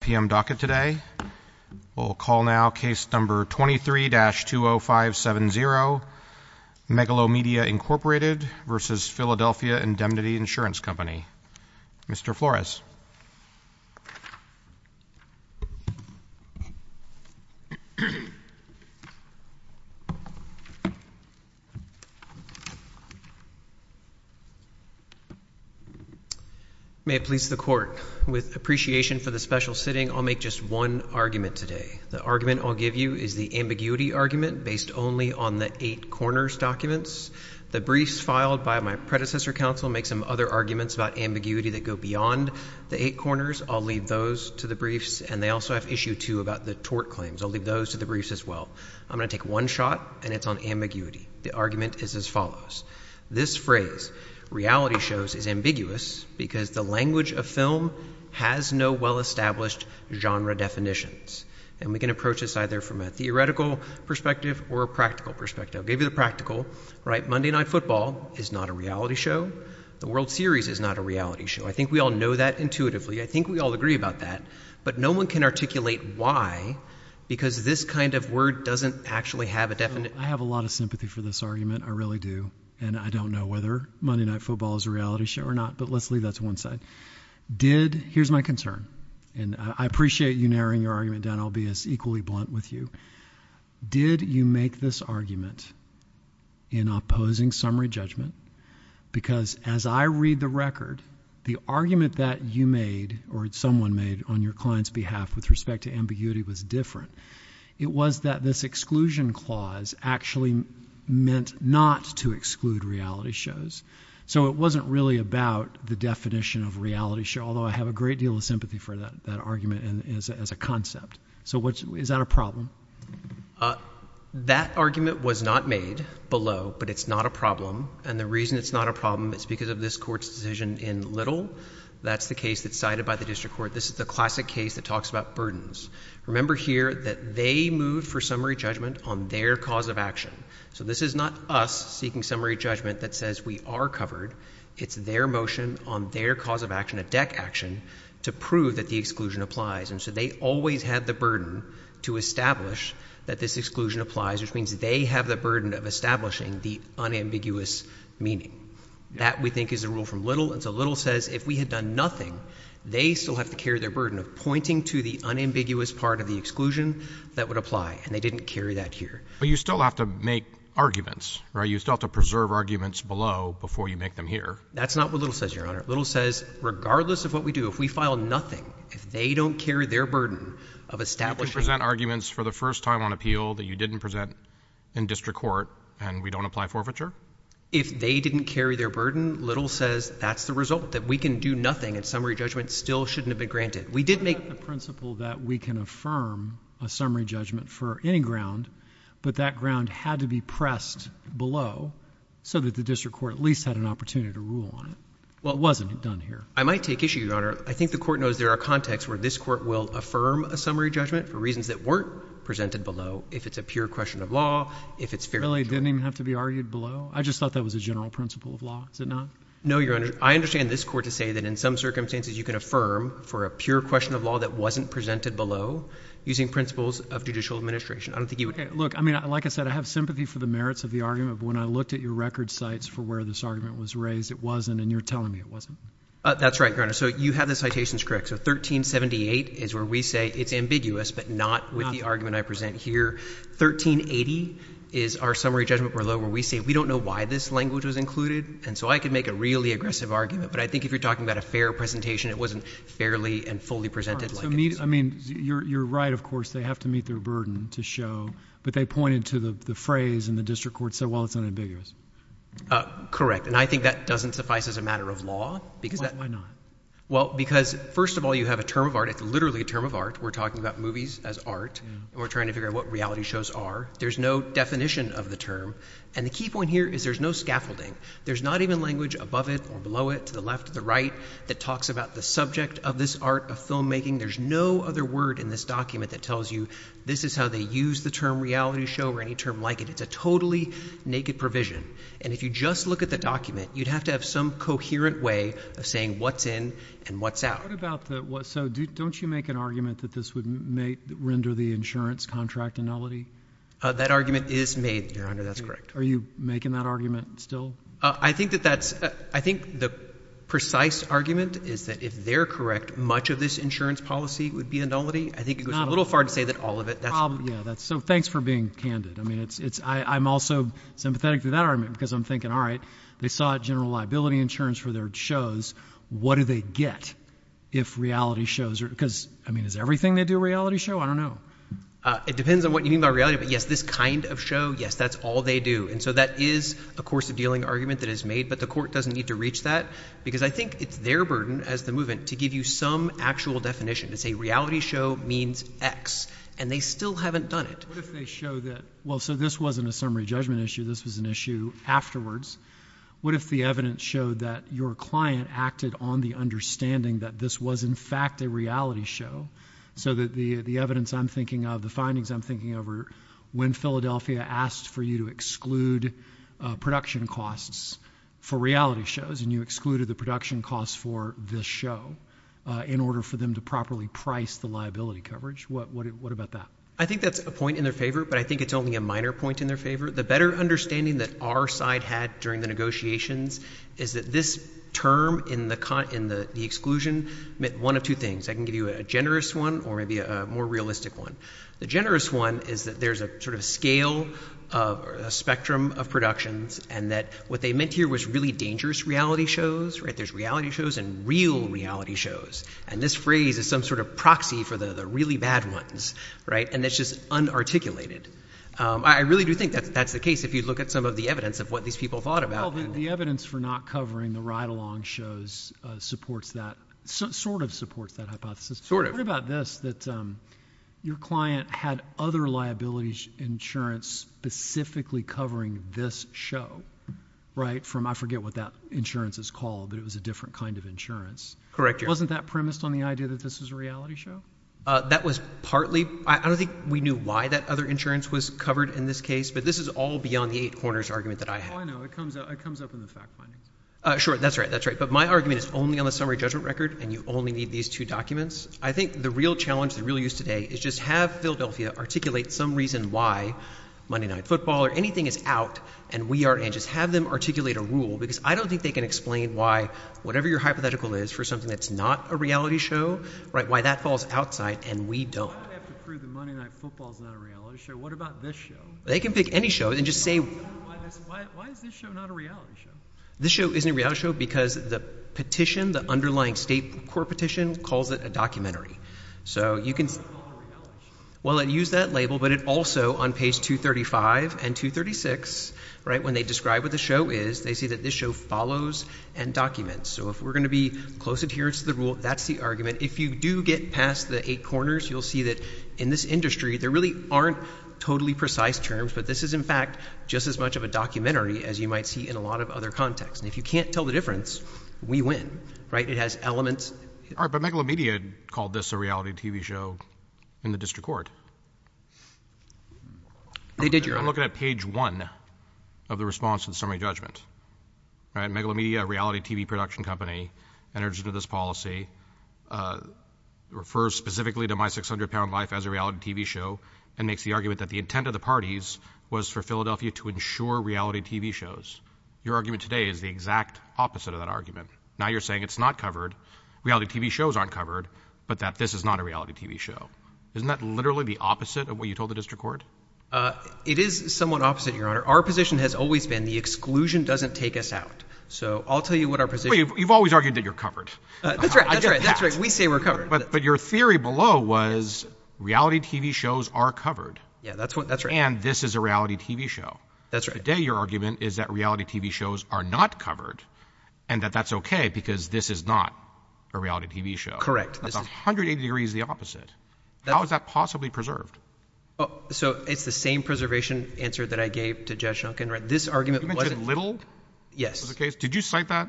P.M. docket today. We'll call now case number 23-20570 Megalomedia, Inc. v. Philadelphia Indemnity Insurance Company. Mr. Flores. May it please the court. With appreciation for the special sitting, I'll make just one argument today. The argument I'll give you is the ambiguity argument based only on the eight corners documents. The briefs filed by my predecessor counsel make some other arguments about ambiguity that go beyond the eight corners. I'll leave those to the briefs, and they also have issue two about the tort claims. I'll leave those to the briefs as well. I'm going to take one shot, and it's on ambiguity. The argument is as follows. This phrase, reality shows, is ambiguous because the language of film has no well-established genre definitions. And we can approach this either from a theoretical perspective or a practical perspective. I'll give you the practical. Monday Night Football is not a reality show. The World Series is not a reality show. I think we all know that intuitively. I think we all agree about that. But no one can articulate why, because this kind of word doesn't actually have a definite— I have a lot of sympathy for this argument. I really do. And I don't know whether Monday Night Football is a reality show or not, but let's leave that to one side. Did—here's my concern, and I appreciate you narrowing your argument down. I'll be as equally blunt with you. Did you make this argument in opposing summary judgment? Because as I read the record, the argument that you made or someone made on your client's behalf with respect to ambiguity was different. It was that this exclusion clause actually meant not to exclude reality shows. So it wasn't really about the definition of reality show, although I have a great deal of sympathy for that argument as a concept. So is that a problem? That argument was not made below, but it's not a problem. And the reason it's not a problem is because of this Court's decision in Little. That's the case that's cited by the District Court. This is the classic case that talks about burdens. Remember here that they moved for summary judgment on their cause of action. So this is not us seeking summary judgment that says we are covered. It's their motion on their cause of action, a deck action, to prove that the exclusion applies. And so they always had the burden to establish that this exclusion applies, which means they have the burden of establishing the unambiguous meaning. That we think is a rule from Little. And so Little says if we had done nothing, they still have to carry their burden of pointing to the unambiguous part of the exclusion that would apply, and they didn't carry that here. But you still have to make arguments, right? You still have to preserve arguments below before you make them here. That's not what Little says, Your Honor. Little says regardless of what we do, if we file nothing, if they don't carry their burden of establishing— You can present arguments for the first time on appeal that you didn't present in District Court and we don't apply forfeiture? If they didn't carry their burden, Little says that's the result, that we can do nothing and summary judgment still shouldn't have been granted. We did make— We made a principle that we can affirm a summary judgment for any ground, but that ground had to be pressed below so that the District Court at least had an opportunity to rule on it. Well, it wasn't done here. I might take issue, Your Honor. I think the Court knows there are contexts where this Court will affirm a summary judgment for reasons that weren't presented below, if it's a pure question of law, if it's fair judgment. Really didn't even have to be argued below? I just thought that was a general principle of law. Is it not? No, Your Honor. I understand this Court to say that in some circumstances you can affirm for a pure question of law that wasn't presented below using principles of judicial administration. I don't think you would— Look, I mean, like I said, I have sympathy for the merits of the argument, but when I looked at your record sites for where this argument was raised, it wasn't, and you're telling me it wasn't. That's right, Your Honor. So you have the citations correct. So 1378 is where we say it's ambiguous, but not with the argument I present here. 1380 is our summary judgment below where we say we don't know why this language was included, and so I could make a really aggressive argument, but I think if you're talking about a fair presentation, it wasn't fairly and fully presented like it's— I mean, you're right, of course, they have to meet their burden to show, but they pointed to the phrase in the district court, so while it's unambiguous. Correct, and I think that doesn't suffice as a matter of law because— Why not? Well, because first of all, you have a term of art. It's literally a term of art. We're talking about movies as art, and we're trying to figure out what reality shows are. There's no definition of the term, and the key point here is there's no scaffolding. There's not even language above it or below it, to the left or the right, that talks about the subject of this art of filmmaking. There's no other word in this document that tells you this is how they use the term reality show or any term like it. It's a totally naked provision, and if you just look at the document, you'd have to have some coherent way of saying what's in and what's out. What about the—so don't you make an argument that this would render the insurance contract a nullity? That argument is made, Your Honor, that's correct. Are you making that argument still? I think that that's—I think the precise argument is that if they're correct, much of this insurance policy would be a nullity. I think it goes a little far to say that all of it— Yeah, that's—so thanks for being candid. I mean, it's—I'm also sympathetic to that argument because I'm thinking, all right, they sought general liability insurance for their shows. What do they get if reality shows are—because, I mean, is everything they do a reality show? I don't know. It depends on what you mean by reality, but yes, this kind of show, yes, that's all they do, and so that is a course of dealing argument that is made, but the court doesn't need to reach that because I think it's their burden as the movement to give you some actual definition. It's a reality show means X, and they still haven't done it. What if they show that—well, so this wasn't a summary judgment issue. This was an issue afterwards. What if the evidence showed that your client acted on the understanding that this was, in fact, a reality show so that the evidence I'm thinking of, the findings I'm thinking of are when Philadelphia asked for you to exclude production costs for reality shows and you excluded the production costs for this show in order for them to properly price the liability coverage? What about that? I think that's a point in their favor, but I think it's only a minor point in their favor. The better understanding that our side had during the negotiations is that this term in the exclusion meant one of two things. I can give you a generous one or maybe a more realistic one. The generous one is that there's a sort of scale, a spectrum of productions, and that what they meant here was really dangerous reality shows. There's reality shows and real reality shows, and this phrase is some sort of proxy for the really bad ones, and it's just unarticulated. I really do think that that's the case if you look at some of the evidence of what these people thought about. The evidence for not covering the ride-along shows supports that—sort of supports that hypothesis. What about this, that your client had other liabilities insurance specifically covering this show, right? I forget what that insurance is called, but it was a different kind of insurance. Correct, Your Honor. Wasn't that premised on the idea that this was a reality show? That was partly—I don't think we knew why that other insurance was covered in this case, but this is all beyond the eight corners argument that I had. Oh, I know. It comes up in the fact findings. Sure. That's right. That's right. But my argument is only on the summary judgment record, and you only need these two documents. I think the real challenge, the real use today is just have Philadelphia articulate some reason why Monday Night Football or anything is out, and we are anxious. Have them articulate a rule, because I don't think they can explain why whatever your hypothetical is for something that's not a reality show, right, why that falls outside, and we don't. Why do we have to prove that Monday Night Football is not a reality show? What about this show? They can pick any show and just say— Why is this show not a reality show? This show isn't a reality show because the petition, the underlying state court petition calls it a documentary. So you can— Why is it not a reality show? Well, it used that label, but it also on page 235 and 236, right, when they describe what the show is, they say that this show follows and documents. So if we're going to be close adherence to the rule, that's the argument. If you do get past the eight corners, you'll see that in this industry, there really aren't totally precise terms, but this is in fact just as much of a documentary as you might see in a lot of other contexts. And if you can't tell the difference, we win, right? It has elements— All right, but Megalomedia called this a reality TV show in the district court. They did, Your Honor. I'm looking at page one of the response to the summary judgment, right? Megalomedia, a reality TV production company, enters into this policy, refers specifically to My 600 Pound Life as a reality TV show, and makes the argument that the intent of the parties was for Philadelphia to ensure reality TV shows. Your argument today is the exact opposite of that argument. Now you're saying it's not covered, reality TV shows aren't covered, but that this is not a reality TV show. Isn't that literally the opposite of what you told the district court? It is somewhat opposite, Your Honor. Our position has always been the exclusion doesn't take us out. So I'll tell you what our position— You've always argued that you're covered. That's right. That's right. We say we're covered. But your theory below was reality TV shows are covered. Yeah, that's right. And this is a reality TV show. That's right. Today your argument is that reality TV shows are not covered, and that that's okay because this is not a reality TV show. That's 180 degrees the opposite. How is that possibly preserved? So it's the same preservation answer that I gave to Judge Duncan, right? This argument wasn't— You mentioned Little? Yes. Was it the case? Did you cite that?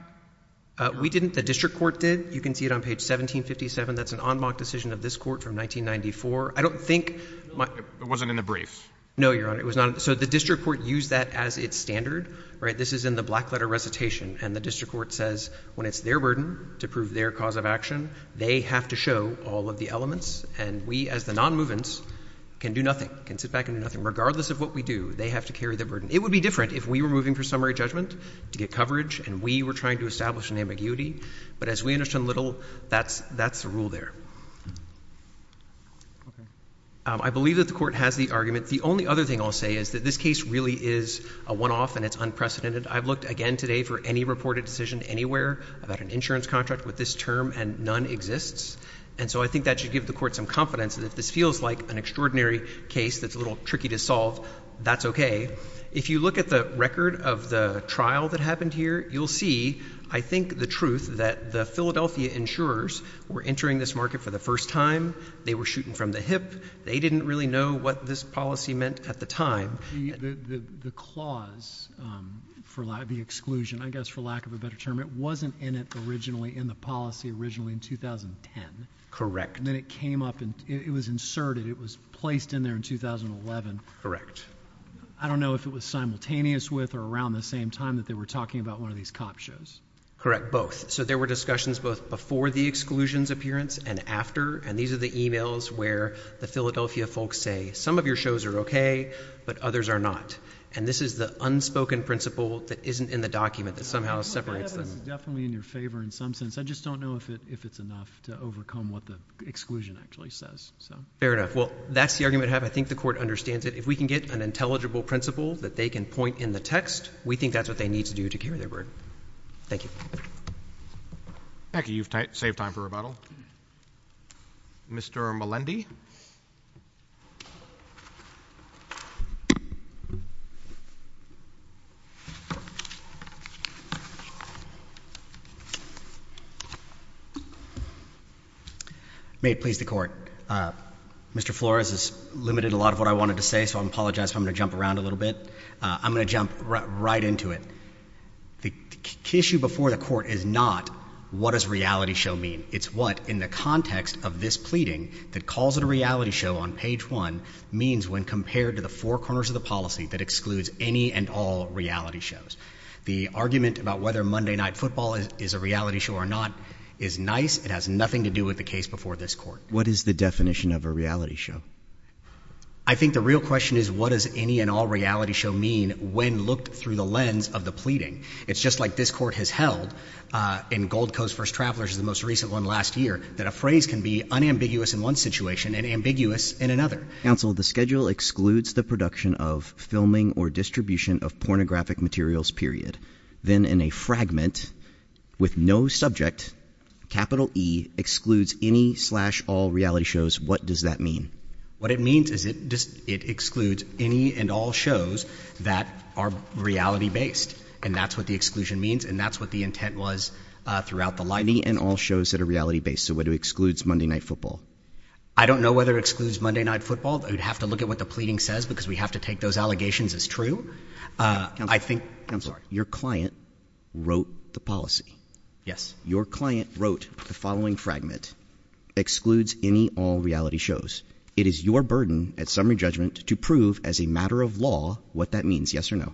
We didn't. The district court did. You can see it on page 1757. That's an en banc decision of this court from 1994. I don't think— It wasn't in the briefs. No, Your Honor. It was not. So the district court used that as its standard, right? This is in the black letter recitation. And the district court says when it's their burden to prove their cause of action, they have to show all of the elements. And we as the non-movements can do nothing, can sit back and do nothing. Regardless of what we do, they have to carry the burden. It would be different if we were moving for summary judgment to get coverage and we were trying to establish an ambiguity. But as we understand Little, that's the rule there. Okay. I believe that the court has the argument. The only other thing I'll say is that this case really is a one-off and it's unprecedented. I've looked again today for any reported decision anywhere about an insurance contract with this term, and none exists. And so I think that should give the court some confidence that if this feels like an extraordinary case that's a little tricky to solve, that's okay. If you look at the record of the trial that happened here, you'll see, I think, the truth that the Philadelphia insurers were entering this market for the first time. They were shooting from the hip. They didn't really know what this policy meant at the time. The clause for the exclusion, I guess for lack of a better term, it wasn't in it originally, in the policy originally in 2010. Correct. And then it came up and it was inserted. It was placed in there in 2011. Correct. I don't know if it was simultaneous with or around the same time that they were talking about one of these cop shows. Correct. Both. So there were discussions both before the exclusion's appearance and after. And these are the emails where the Philadelphia folks say, some of your shows are okay, but others are not. And this is the unspoken principle that isn't in the document that somehow separates them. I think this is definitely in your favor in some sense. I just don't know if it's enough to overcome what the exclusion actually says. Fair enough. Well, that's the argument I have. I think the court understands it. If we can get an intelligible principle that they can point in the text, we think that's what they need to do to carry their burden. Thank you. Thank you. You've saved time for rebuttal. Mr. Melendi? May it please the court. Mr. Flores has limited a lot of what I wanted to say, so I apologize if I'm going to jump around a little bit. I'm going to jump right into it. The issue before the court is not, what does reality show mean? It's what, in the context of this pleading that calls it a reality show on page one, means when compared to the four corners of the policy that excludes any and all reality shows. The argument about whether Monday Night Football is a reality show or not is nice. It has nothing to do with the case before this court. What is the definition of a reality show? I think the real question is, what does any and all reality show mean when looked through the lens of the pleading? It's just like this court has held in Gold Coast vs. Travelers, the most recent one last year, that a phrase can be unambiguous in one situation and ambiguous in another. Counsel, the schedule excludes the production of filming or distribution of pornographic materials, period. Then in a fragment with no subject, capital E excludes any slash all reality shows. What does that mean? What it means is it excludes any and all shows that are reality based, and that's what the exclusion means, and that's what the intent was throughout the line. Any and all shows that are reality based, so it excludes Monday Night Football. I don't know whether it excludes Monday Night Football. We'd have to look at what the pleading says because we have to take those allegations as true. I think, counsel, your client wrote the policy. Yes. Your client wrote the following fragment, excludes any all reality shows. It is your burden at summary judgment to prove as a matter of law what that means, yes or no?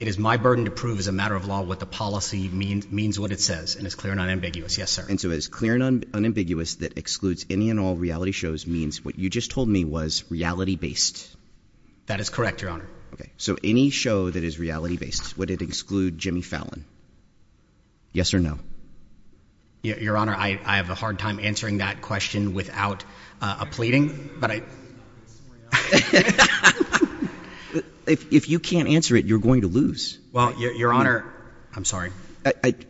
It is my burden to prove as a matter of law what the policy means, means what it says, and it's clear and unambiguous, yes sir. And so it's clear and unambiguous that excludes any and all reality shows means what you just told me was reality based. That is correct, your honor. So any show that is reality based, would it exclude Jimmy Fallon? Yes or no? Your honor, I have a hard time answering that question without a pleading, but I... If you can't answer it, you're going to lose. Well, your honor, I'm sorry.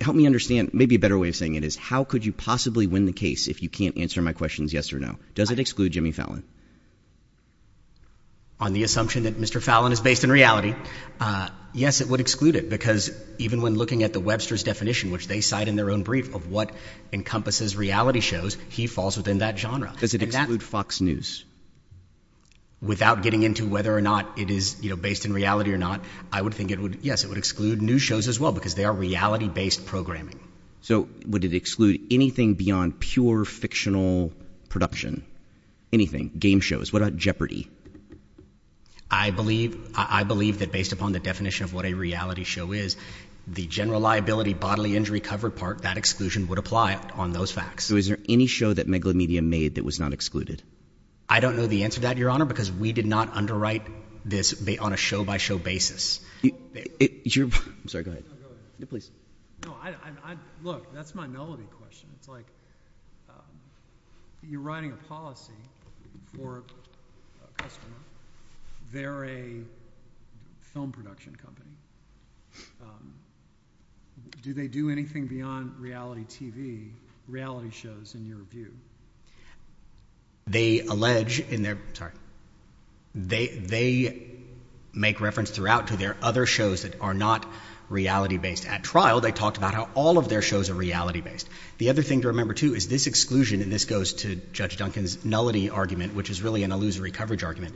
Help me understand, maybe a better way of saying it is, how could you possibly win the case if you can't answer my questions yes or no? Does it exclude Jimmy Fallon? On the assumption that Mr. Fallon is based in reality, yes, it would exclude it because even when looking at the Webster's definition, which they cite in their own brief of what encompasses reality shows, he falls within that genre. Does it exclude Fox News? Without getting into whether or not it is based in reality or not, I would think it would, yes, it would exclude news shows as well because they are reality based programming. So would it exclude anything beyond pure fictional production, anything, game shows? What about Jeopardy? I believe that based upon the definition of what a reality show is, the general liability bodily injury covered part, that exclusion would apply on those facts. So is there any show that Megalomedia made that was not excluded? I don't know the answer to that, your honor, because we did not underwrite this on a show by show basis. I'm sorry, go ahead. No, go ahead. Yeah, please. No, look, that's my novelty question. It's like you're writing a policy for a customer, they're a film production company, do they do anything beyond reality TV, reality shows in your view? They allege in their, sorry, they make reference throughout to their other shows that are not reality based. At trial, they talked about how all of their shows are reality based. The other thing to remember too is this exclusion, and this goes to Judge Duncan's nullity argument, which is really an illusory coverage argument,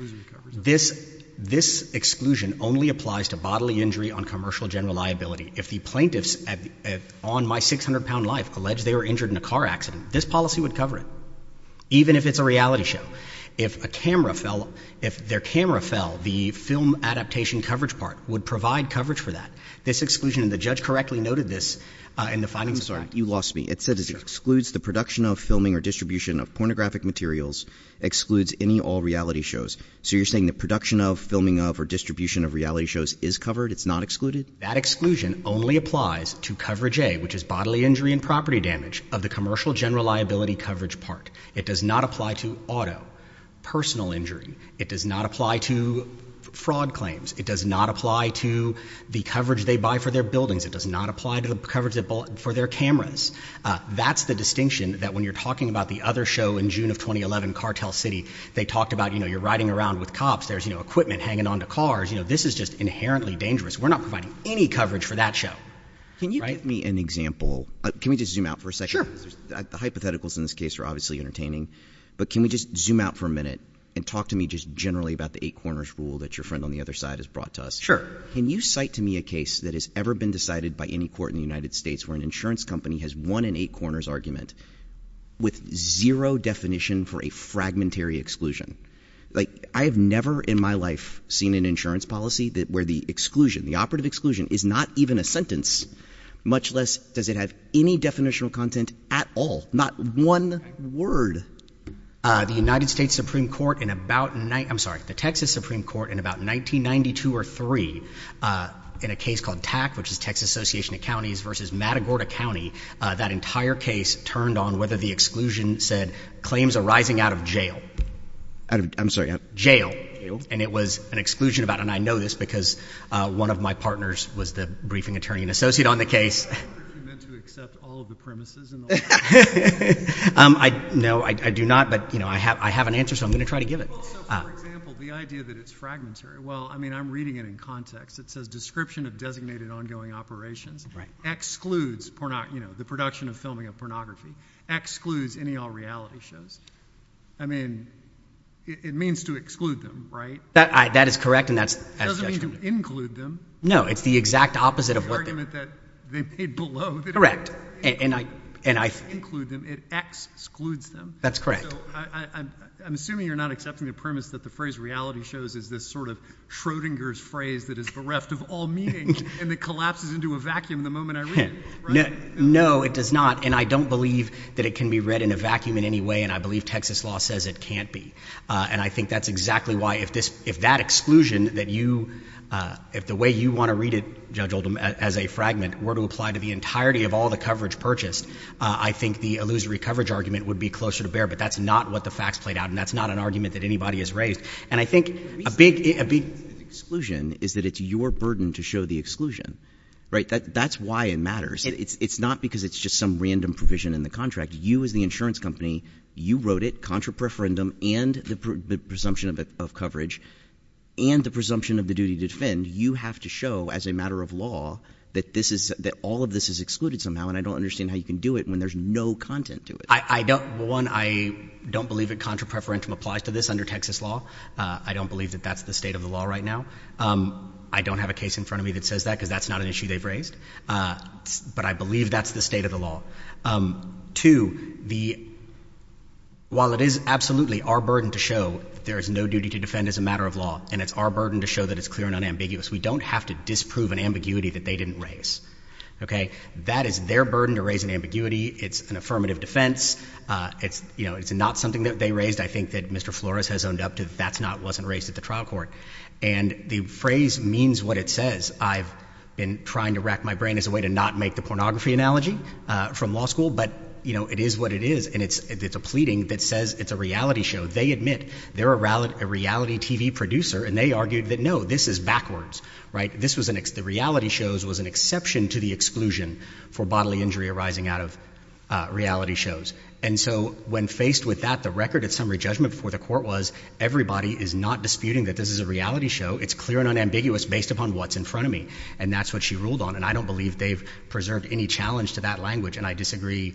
this exclusion only applies to bodily injury on commercial general liability. If the plaintiffs on My 600-lb Life allege they were injured in a car accident, this policy would cover it, even if it's a reality show. If a camera fell, if their camera fell, the film adaptation coverage part would provide coverage for that. This exclusion, and the judge correctly noted this in the findings of the act. You lost me. It said it excludes the production of, filming, or distribution of pornographic materials, excludes any all reality shows, so you're saying the production of, filming of, or distribution of reality shows is covered, it's not excluded? That exclusion only applies to coverage A, which is bodily injury and property damage of the commercial general liability coverage part. It does not apply to auto, personal injury. It does not apply to fraud claims. It does not apply to the coverage they buy for their buildings. It does not apply to the coverage for their cameras. That's the distinction that when you're talking about the other show in June of 2011, Cartel City, they talked about, you know, you're riding around with cops, there's equipment hanging on to cars, you know, this is just inherently dangerous. We're not providing any coverage for that show. Can you give me an example, can we just zoom out for a second? The hypotheticals in this case are obviously entertaining, but can we just zoom out for a minute and talk to me just generally about the eight corners rule that your friend on the other side has brought to us? Sure. Can you cite to me a case that has ever been decided by any court in the United States where an insurance company has won an eight corners argument with zero definition for a fragmentary exclusion? Like, I have never in my life seen an insurance policy that where the exclusion, the operative exclusion is not even a sentence, much less does it have any definitional content at all, not one word. The United States Supreme Court in about, I'm sorry, the Texas Supreme Court in about 1992 or three, in a case called TAC, which is Texas Association of Counties versus Matagorda County, that entire case turned on whether the exclusion said claims arising out of jail. Out of, I'm sorry, out of jail. And it was an exclusion about, and I know this because one of my partners was the briefing attorney and associate on the case. Do you mean to accept all of the premises in the law? No, I do not, but you know, I have, I have an answer, so I'm going to try to give it. So, for example, the idea that it's fragmentary, well, I mean, I'm reading it in context. It says description of designated ongoing operations excludes, you know, the production of filming of pornography, excludes any all reality shows. I mean, it means to exclude them, right? That is correct, and that's. It doesn't mean to include them. No, it's the exact opposite of what they. The argument that they made below. Correct. And I. Include them. It excludes them. That's correct. I'm assuming you're not accepting the premise that the phrase reality shows is this sort of Schrodinger's phrase that is bereft of all meaning and that collapses into a vacuum the moment I read it, right? No, it does not. And I don't believe that it can be read in a vacuum in any way, and I believe Texas law says it can't be. And I think that's exactly why, if this, if that exclusion that you, if the way you want to read it, Judge Oldham, as a fragment were to apply to the entirety of all the coverage purchased, I think the illusory coverage argument would be closer to bear, but that's not what the facts played out, and that's not an argument that anybody has raised. And I think a big, a big exclusion is that it's your burden to show the exclusion, right? That's why it matters. It's not because it's just some random provision in the contract. You as the insurance company, you wrote it, contra preferendum and the presumption of coverage and the presumption of the duty to defend, you have to show as a matter of law that this is, that all of this is excluded somehow, and I don't understand how you can do it when there's no content to it. I don't, one, I don't believe that contra preferendum applies to this under Texas law. I don't believe that that's the state of the law right now. I don't have a case in front of me that says that because that's not an issue they've raised, but I believe that's the state of the law. Two, the, while it is absolutely our burden to show there is no duty to defend as a matter of law, and it's our burden to show that it's clear and unambiguous, we don't have to disprove an ambiguity that they didn't raise, okay? That is their burden to raise an ambiguity. It's an affirmative defense. It's, you know, it's not something that they raised. I think that Mr. Flores has owned up to that's not, wasn't raised at the trial court. And the phrase means what it says. I've been trying to rack my brain as a way to not make the pornography analogy from law school, but, you know, it is what it is, and it's a pleading that says it's a reality show. They admit they're a reality TV producer, and they argued that no, this is backwards, right? This was an, the reality shows was an exception to the exclusion for bodily injury arising out of reality shows. And so, when faced with that, the record at summary judgment before the court was, everybody is not disputing that this is a reality show. It's clear and unambiguous based upon what's in front of me. And that's what she ruled on. And I don't believe they've preserved any challenge to that language. And I disagree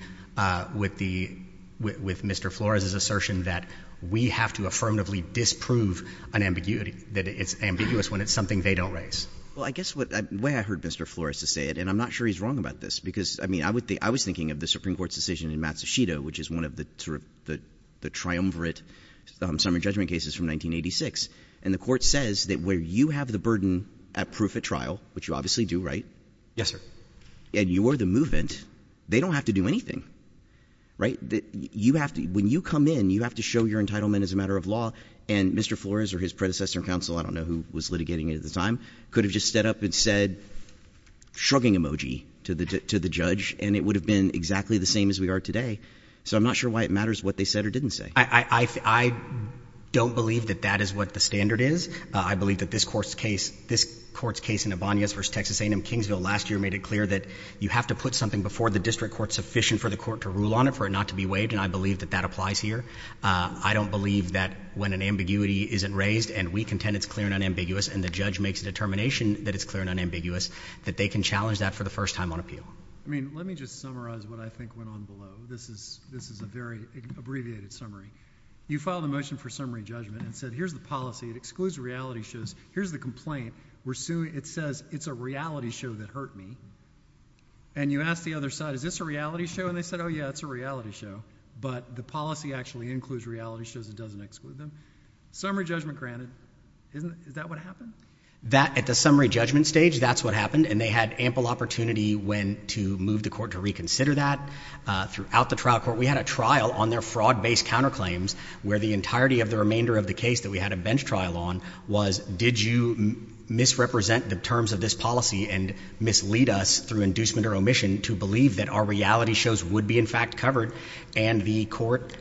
with the, with Mr. Flores' assertion that we have to affirmatively disprove an ambiguity, that it's ambiguous when it's something they don't raise. Well, I guess what, the way I heard Mr. Flores to say it, and I'm not sure he's wrong about this. Because, I mean, I would think, I was thinking of the Supreme Court's decision in Matsushita, which is one of the triumvirate summary judgment cases from 1986. And the court says that where you have the burden at proof at trial, which you obviously do, right? Yes, sir. And you are the movement, they don't have to do anything, right? You have to, when you come in, you have to show your entitlement as a matter of law. And Mr. Flores or his predecessor counsel, I don't know who was litigating it at the time, could have just stood up and said shrugging emoji to the judge. And it would have been exactly the same as we are today. So I'm not sure why it matters what they said or didn't say. I don't believe that that is what the standard is. I believe that this court's case in Abanias versus Texas A&M Kingsville last year made it clear that you have to put something before the district court sufficient for the court to rule on it, for it not to be waived. And I believe that that applies here. I don't believe that when an ambiguity isn't raised, and we contend it's clear and unambiguous, and the judge makes a determination that it's clear and unambiguous, that they can challenge that for the first time on appeal. I mean, let me just summarize what I think went on below. This is a very abbreviated summary. You filed a motion for summary judgment and said here's the policy, it excludes reality shows. Here's the complaint, it says it's a reality show that hurt me. And you ask the other side, is this a reality show? And they said, yeah, it's a reality show. But the policy actually includes reality shows, it doesn't exclude them. Summary judgment granted, is that what happened? That, at the summary judgment stage, that's what happened, and they had ample opportunity when to move the court to reconsider that. Throughout the trial court, we had a trial on their fraud based counterclaims, where the entirety of the remainder of the case that we had a bench trial on was, did you misrepresent the terms of this policy and mislead us through inducement or omission to believe that our reality shows would be in fact covered, and the court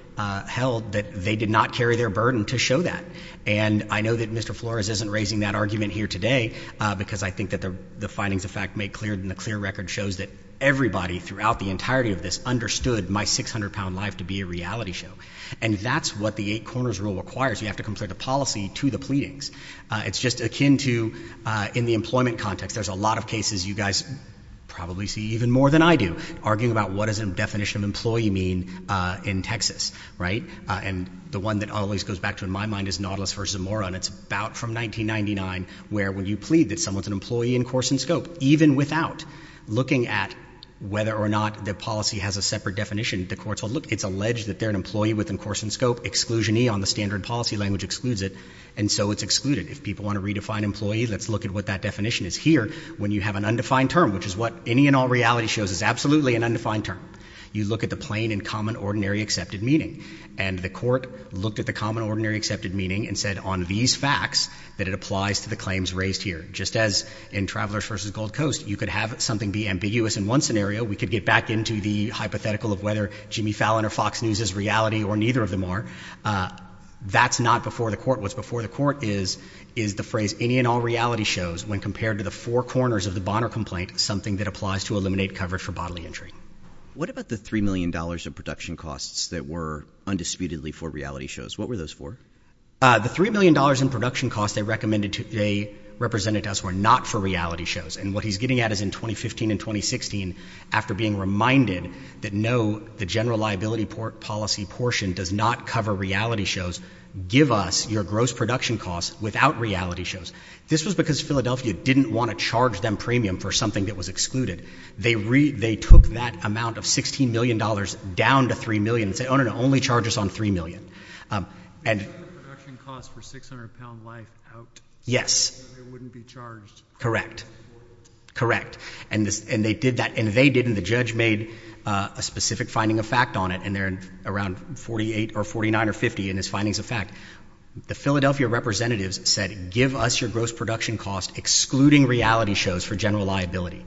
held that they did not carry their burden to show that. And I know that Mr. Flores isn't raising that argument here today, because I think that the findings of fact made clear, and the clear record shows that everybody throughout the entirety of this understood my 600 pound life to be a reality show. And that's what the eight corners rule requires, you have to compare the policy to the pleadings. It's just akin to, in the employment context, there's a lot of cases you guys probably see even more than I do, arguing about what is the definition of employee mean in Texas, right? And the one that always goes back to in my mind is Nautilus versus Zamora, and it's about from 1999, where when you plead that someone's an employee in course and scope, even without looking at whether or not the policy has a separate definition, the courts will look, it's alleged that they're an employee within course and scope. Exclusion E on the standard policy language excludes it, and so it's excluded. If people want to redefine employee, let's look at what that definition is. Here, when you have an undefined term, which is what any and all reality shows is absolutely an undefined term. You look at the plain and common ordinary accepted meaning. And the court looked at the common ordinary accepted meaning and said on these facts that it applies to the claims raised here. Just as in Travelers versus Gold Coast, you could have something be ambiguous in one scenario. We could get back into the hypothetical of whether Jimmy Fallon or Fox News is reality or neither of them are. That's not before the court. What's before the court is the phrase any and all reality shows when compared to the four corners of the Bonner complaint, something that applies to eliminate cover for bodily injury. What about the $3 million of production costs that were undisputedly for reality shows? What were those for? The $3 million in production costs they recommended, they represented to us, were not for reality shows. And what he's getting at is in 2015 and 2016, after being reminded that no, the general liability policy portion does not cover reality shows, give us your gross production costs without reality shows. This was because Philadelphia didn't want to charge them premium for something that was excluded. They took that amount of $16 million down to $3 million and said, no, no, no, only charge us on $3 million. And- Production costs for 600 pound life out. Yes. It wouldn't be charged. Correct. Correct. And they did that, and they did, and the judge made a specific finding of fact on it. And they're around 48 or 49 or 50 in his findings of fact. The Philadelphia representatives said, give us your gross production cost excluding reality shows for general liability.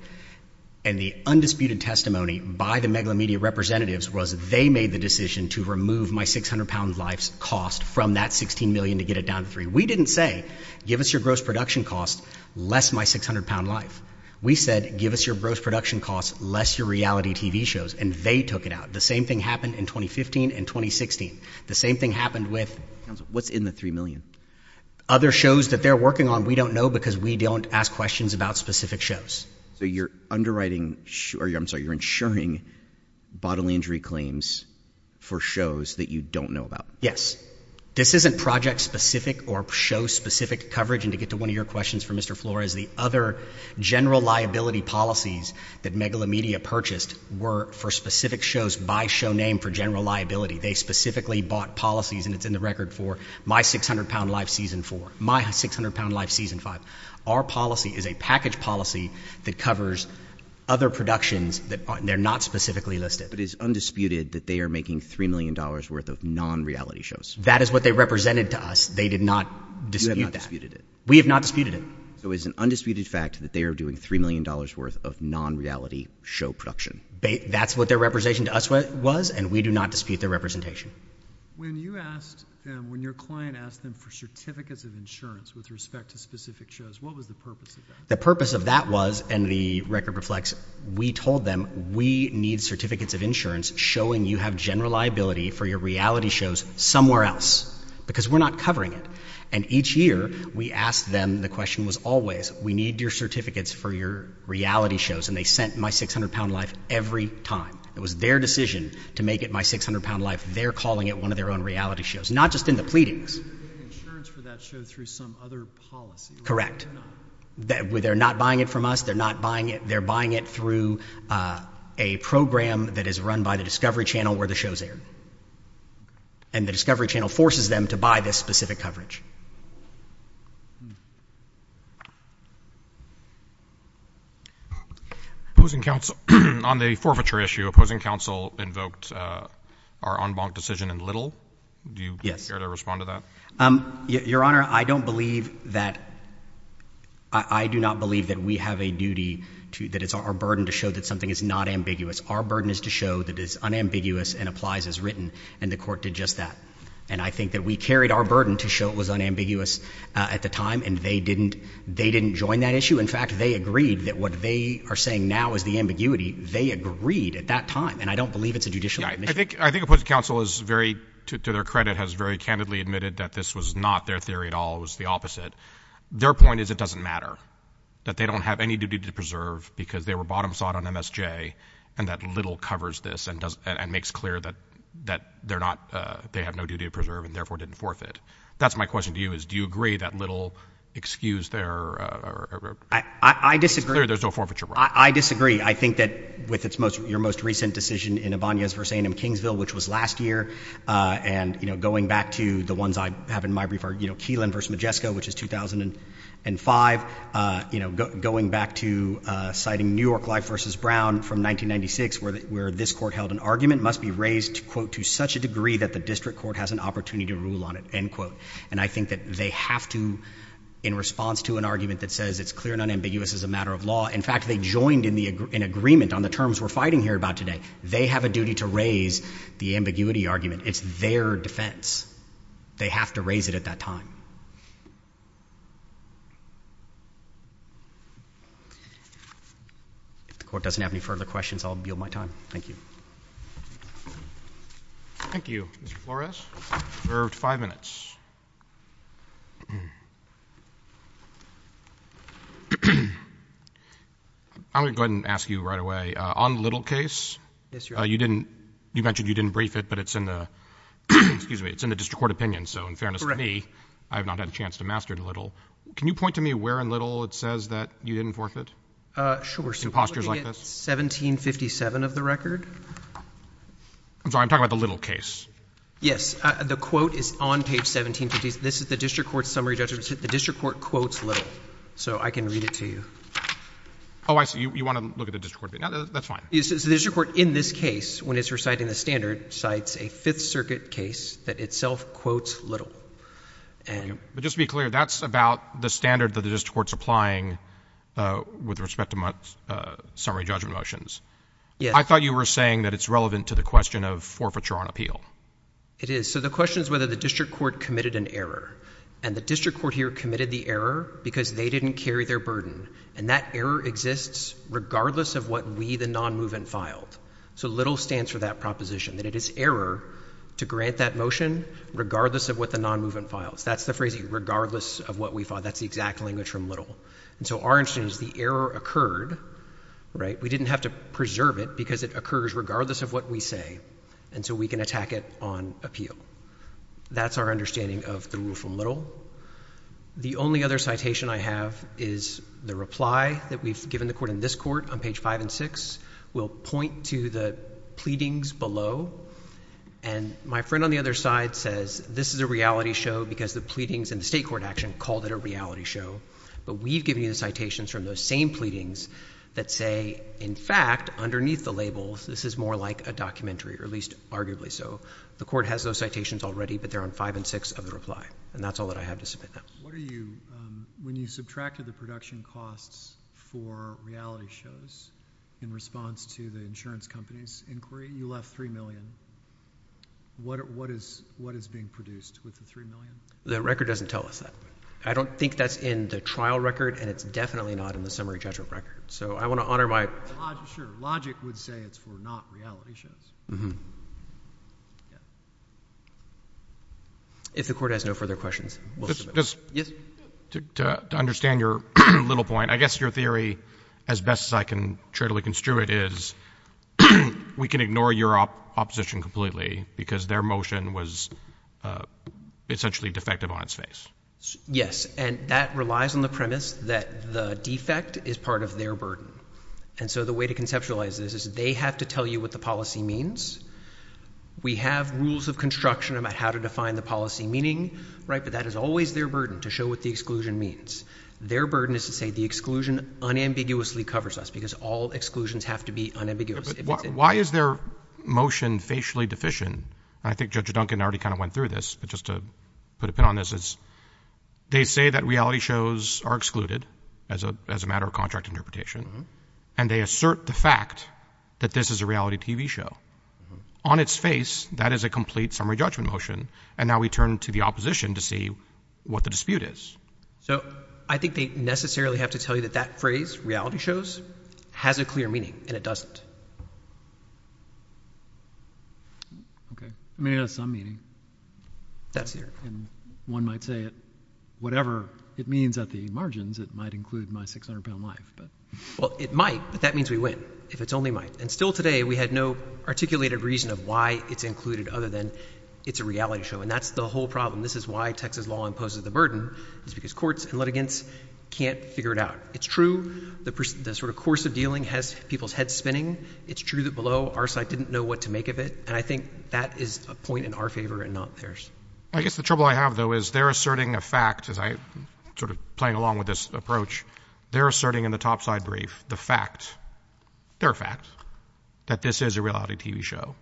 And the undisputed testimony by the megalomedia representatives was, they made the decision to remove my 600 pound life's cost from that 16 million to get it down to three. We didn't say, give us your gross production cost, less my 600 pound life. We said, give us your gross production cost, less your reality TV shows. And they took it out. The same thing happened in 2015 and 2016. The same thing happened with- What's in the three million? Other shows that they're working on, we don't know because we don't ask questions about specific shows. So you're underwriting, or I'm sorry, you're insuring bodily injury claims for shows that you don't know about. Yes. This isn't project specific or show specific coverage. And to get to one of your questions for Mr. Flores, the other general liability policies that megalomedia purchased were for specific shows by show name for general liability. They specifically bought policies and it's in the record for my 600 pound life season four, my 600 pound life season five. Our policy is a package policy that covers other productions that they're not specifically listed. But it's undisputed that they are making $3 million worth of non-reality shows. That is what they represented to us. They did not dispute that. You have not disputed it. We have not disputed it. So it's an undisputed fact that they are doing $3 million worth of non-reality show production. That's what their representation to us was, and we do not dispute their representation. When you asked them, when your client asked them for certificates of insurance with respect to specific shows, what was the purpose of that? The purpose of that was, and the record reflects, we told them we need certificates of insurance showing you have general liability for your reality shows somewhere else. Because we're not covering it. And each year we asked them, the question was always, we need your certificates for your reality shows. And they sent My 600-lb Life every time. It was their decision to make it My 600-lb Life. They're calling it one of their own reality shows. Not just in the pleadings. They're getting insurance for that show through some other policy. Correct. They're not buying it from us. They're not buying it. They're buying it through a program that is run by the Discovery Channel where the show's aired. And the Discovery Channel forces them to buy this specific coverage. On the forfeiture issue, opposing counsel invoked our en banc decision in Little. Do you care to respond to that? Your Honor, I do not believe that we have a duty, that it's our burden to show that something is not ambiguous. Our burden is to show that it's unambiguous and applies as written. And the court did just that. And I think that we carried our burden to show it was unambiguous at the time. And they didn't join that issue. In fact, they agreed that what they are saying now is the ambiguity. They agreed at that time. And I don't believe it's a judicial admission. I think opposing counsel is very, to their credit, has very candidly admitted that this was not their theory at all. It was the opposite. Their point is it doesn't matter. That they don't have any duty to preserve because they were bottom sought on MSJ. And that Little covers this and makes clear that they have no duty to preserve and therefore didn't forfeit. That's my question to you, is do you agree that Little excused their- I disagree. It's clear there's no forfeiture. I disagree. I think that with your most recent decision in Avanias versus A&M Kingsville, which was last year. And going back to the ones I have in my brief are Keelan versus Majesco, which is 2005. Going back to citing New York Life versus Brown from 1996, where this court held an argument must be raised, quote, to such a degree that the district court has an opportunity to rule on it. And I think that they have to, in response to an argument that says it's clear and unambiguous as a matter of law. In fact, they joined in agreement on the terms we're fighting here about today. They have a duty to raise the ambiguity argument. It's their defense. They have to raise it at that time. If the court doesn't have any further questions, I'll yield my time. Thank you. Thank you, Mr. Flores. You're five minutes. I'm going to go ahead and ask you right away, on Little case, you mentioned you didn't brief it, but it's in the, excuse me, it's in the district court opinion. So in fairness to me, I have not had a chance to master Little. Can you point to me where in Little it says that you didn't forfeit? Sure. In postures like this? So we're looking at 1757 of the record? I'm sorry, I'm talking about the Little case. Yes, the quote is on page 1750. This is the district court summary judgment. The district court quotes Little. So I can read it to you. Oh, I see. You want to look at the district court, that's fine. The district court, in this case, when it's reciting the standard, cites a Fifth Circuit case that itself quotes Little. But just to be clear, that's about the standard that the district court's applying with respect to summary judgment motions. I thought you were saying that it's relevant to the question of forfeiture on appeal. It is. So the question is whether the district court committed an error. And the district court here committed the error because they didn't carry their burden. And that error exists regardless of what we, the non-movement, filed. So Little stands for that proposition, that it is error to grant that motion regardless of what the non-movement files. That's the phrase, regardless of what we filed. That's the exact language from Little. And so our understanding is the error occurred, right? We didn't have to preserve it because it occurs regardless of what we say. And so we can attack it on appeal. That's our understanding of the rule from Little. The only other citation I have is the reply that we've given the court in this court on page five and six. We'll point to the pleadings below, and my friend on the other side says, this is a reality show because the pleadings in the state court action called it a reality show. But we've given you the citations from those same pleadings that say, in fact, underneath the labels, this is more like a documentary, or at least arguably so. The court has those citations already, but they're on five and six of the reply. And that's all that I have to submit now. What are you, when you subtracted the production costs for reality shows in response to the insurance company's inquiry, you left three million. What is being produced with the three million? The record doesn't tell us that. I don't think that's in the trial record, and it's definitely not in the summary judgment record. So I want to honor my- Sure, logic would say it's for not reality shows. Mm-hm. If the court has no further questions, we'll submit those. Yes? To understand your little point, I guess your theory, as best as I can truly construe it, is we can ignore your opposition completely, because their motion was essentially defective on its face. Yes, and that relies on the premise that the defect is part of their burden. And so the way to conceptualize this is they have to tell you what the policy means. We have rules of construction about how to define the policy meaning, right? But that is always their burden, to show what the exclusion means. Their burden is to say the exclusion unambiguously covers us, because all exclusions have to be unambiguous. Why is their motion facially deficient? I think Judge Duncan already kind of went through this, but just to put a pin on this is, they say that reality shows are excluded as a matter of contract interpretation. And they assert the fact that this is a reality TV show. On its face, that is a complete summary judgment motion. And now we turn to the opposition to see what the dispute is. So I think they necessarily have to tell you that that phrase, reality shows, has a clear meaning, and it doesn't. Okay, I mean, it has some meaning. That's it. And one might say it, whatever it means at the margins, it might include my 600 pound life, but. Well, it might, but that means we win, if it's only might. And still today, we had no articulated reason of why it's included, other than it's a reality show. And that's the whole problem. This is why Texas law imposes the burden, is because courts and litigants can't figure it out. It's true, the sort of course of dealing has people's heads spinning. It's true that below our side didn't know what to make of it, and I think that is a point in our favor and not theirs. I guess the trouble I have, though, is they're asserting a fact, as I'm sort of playing along with this approach. They're asserting in the top side brief, the fact, their fact, that this is a reality TV show.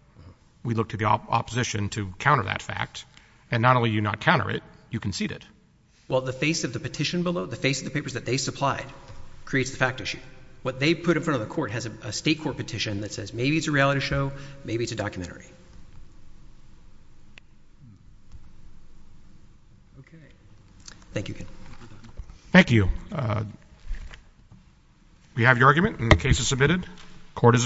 We look to the opposition to counter that fact, and not only do you not counter it, you concede it. Well, the face of the petition below, the face of the papers that they supplied, creates the fact issue. What they put in front of the court has a state court petition that says, maybe it's a reality show, maybe it's a documentary. Okay. Thank you, Ken. Thank you. We have your argument and the case is submitted. Court is adjourned.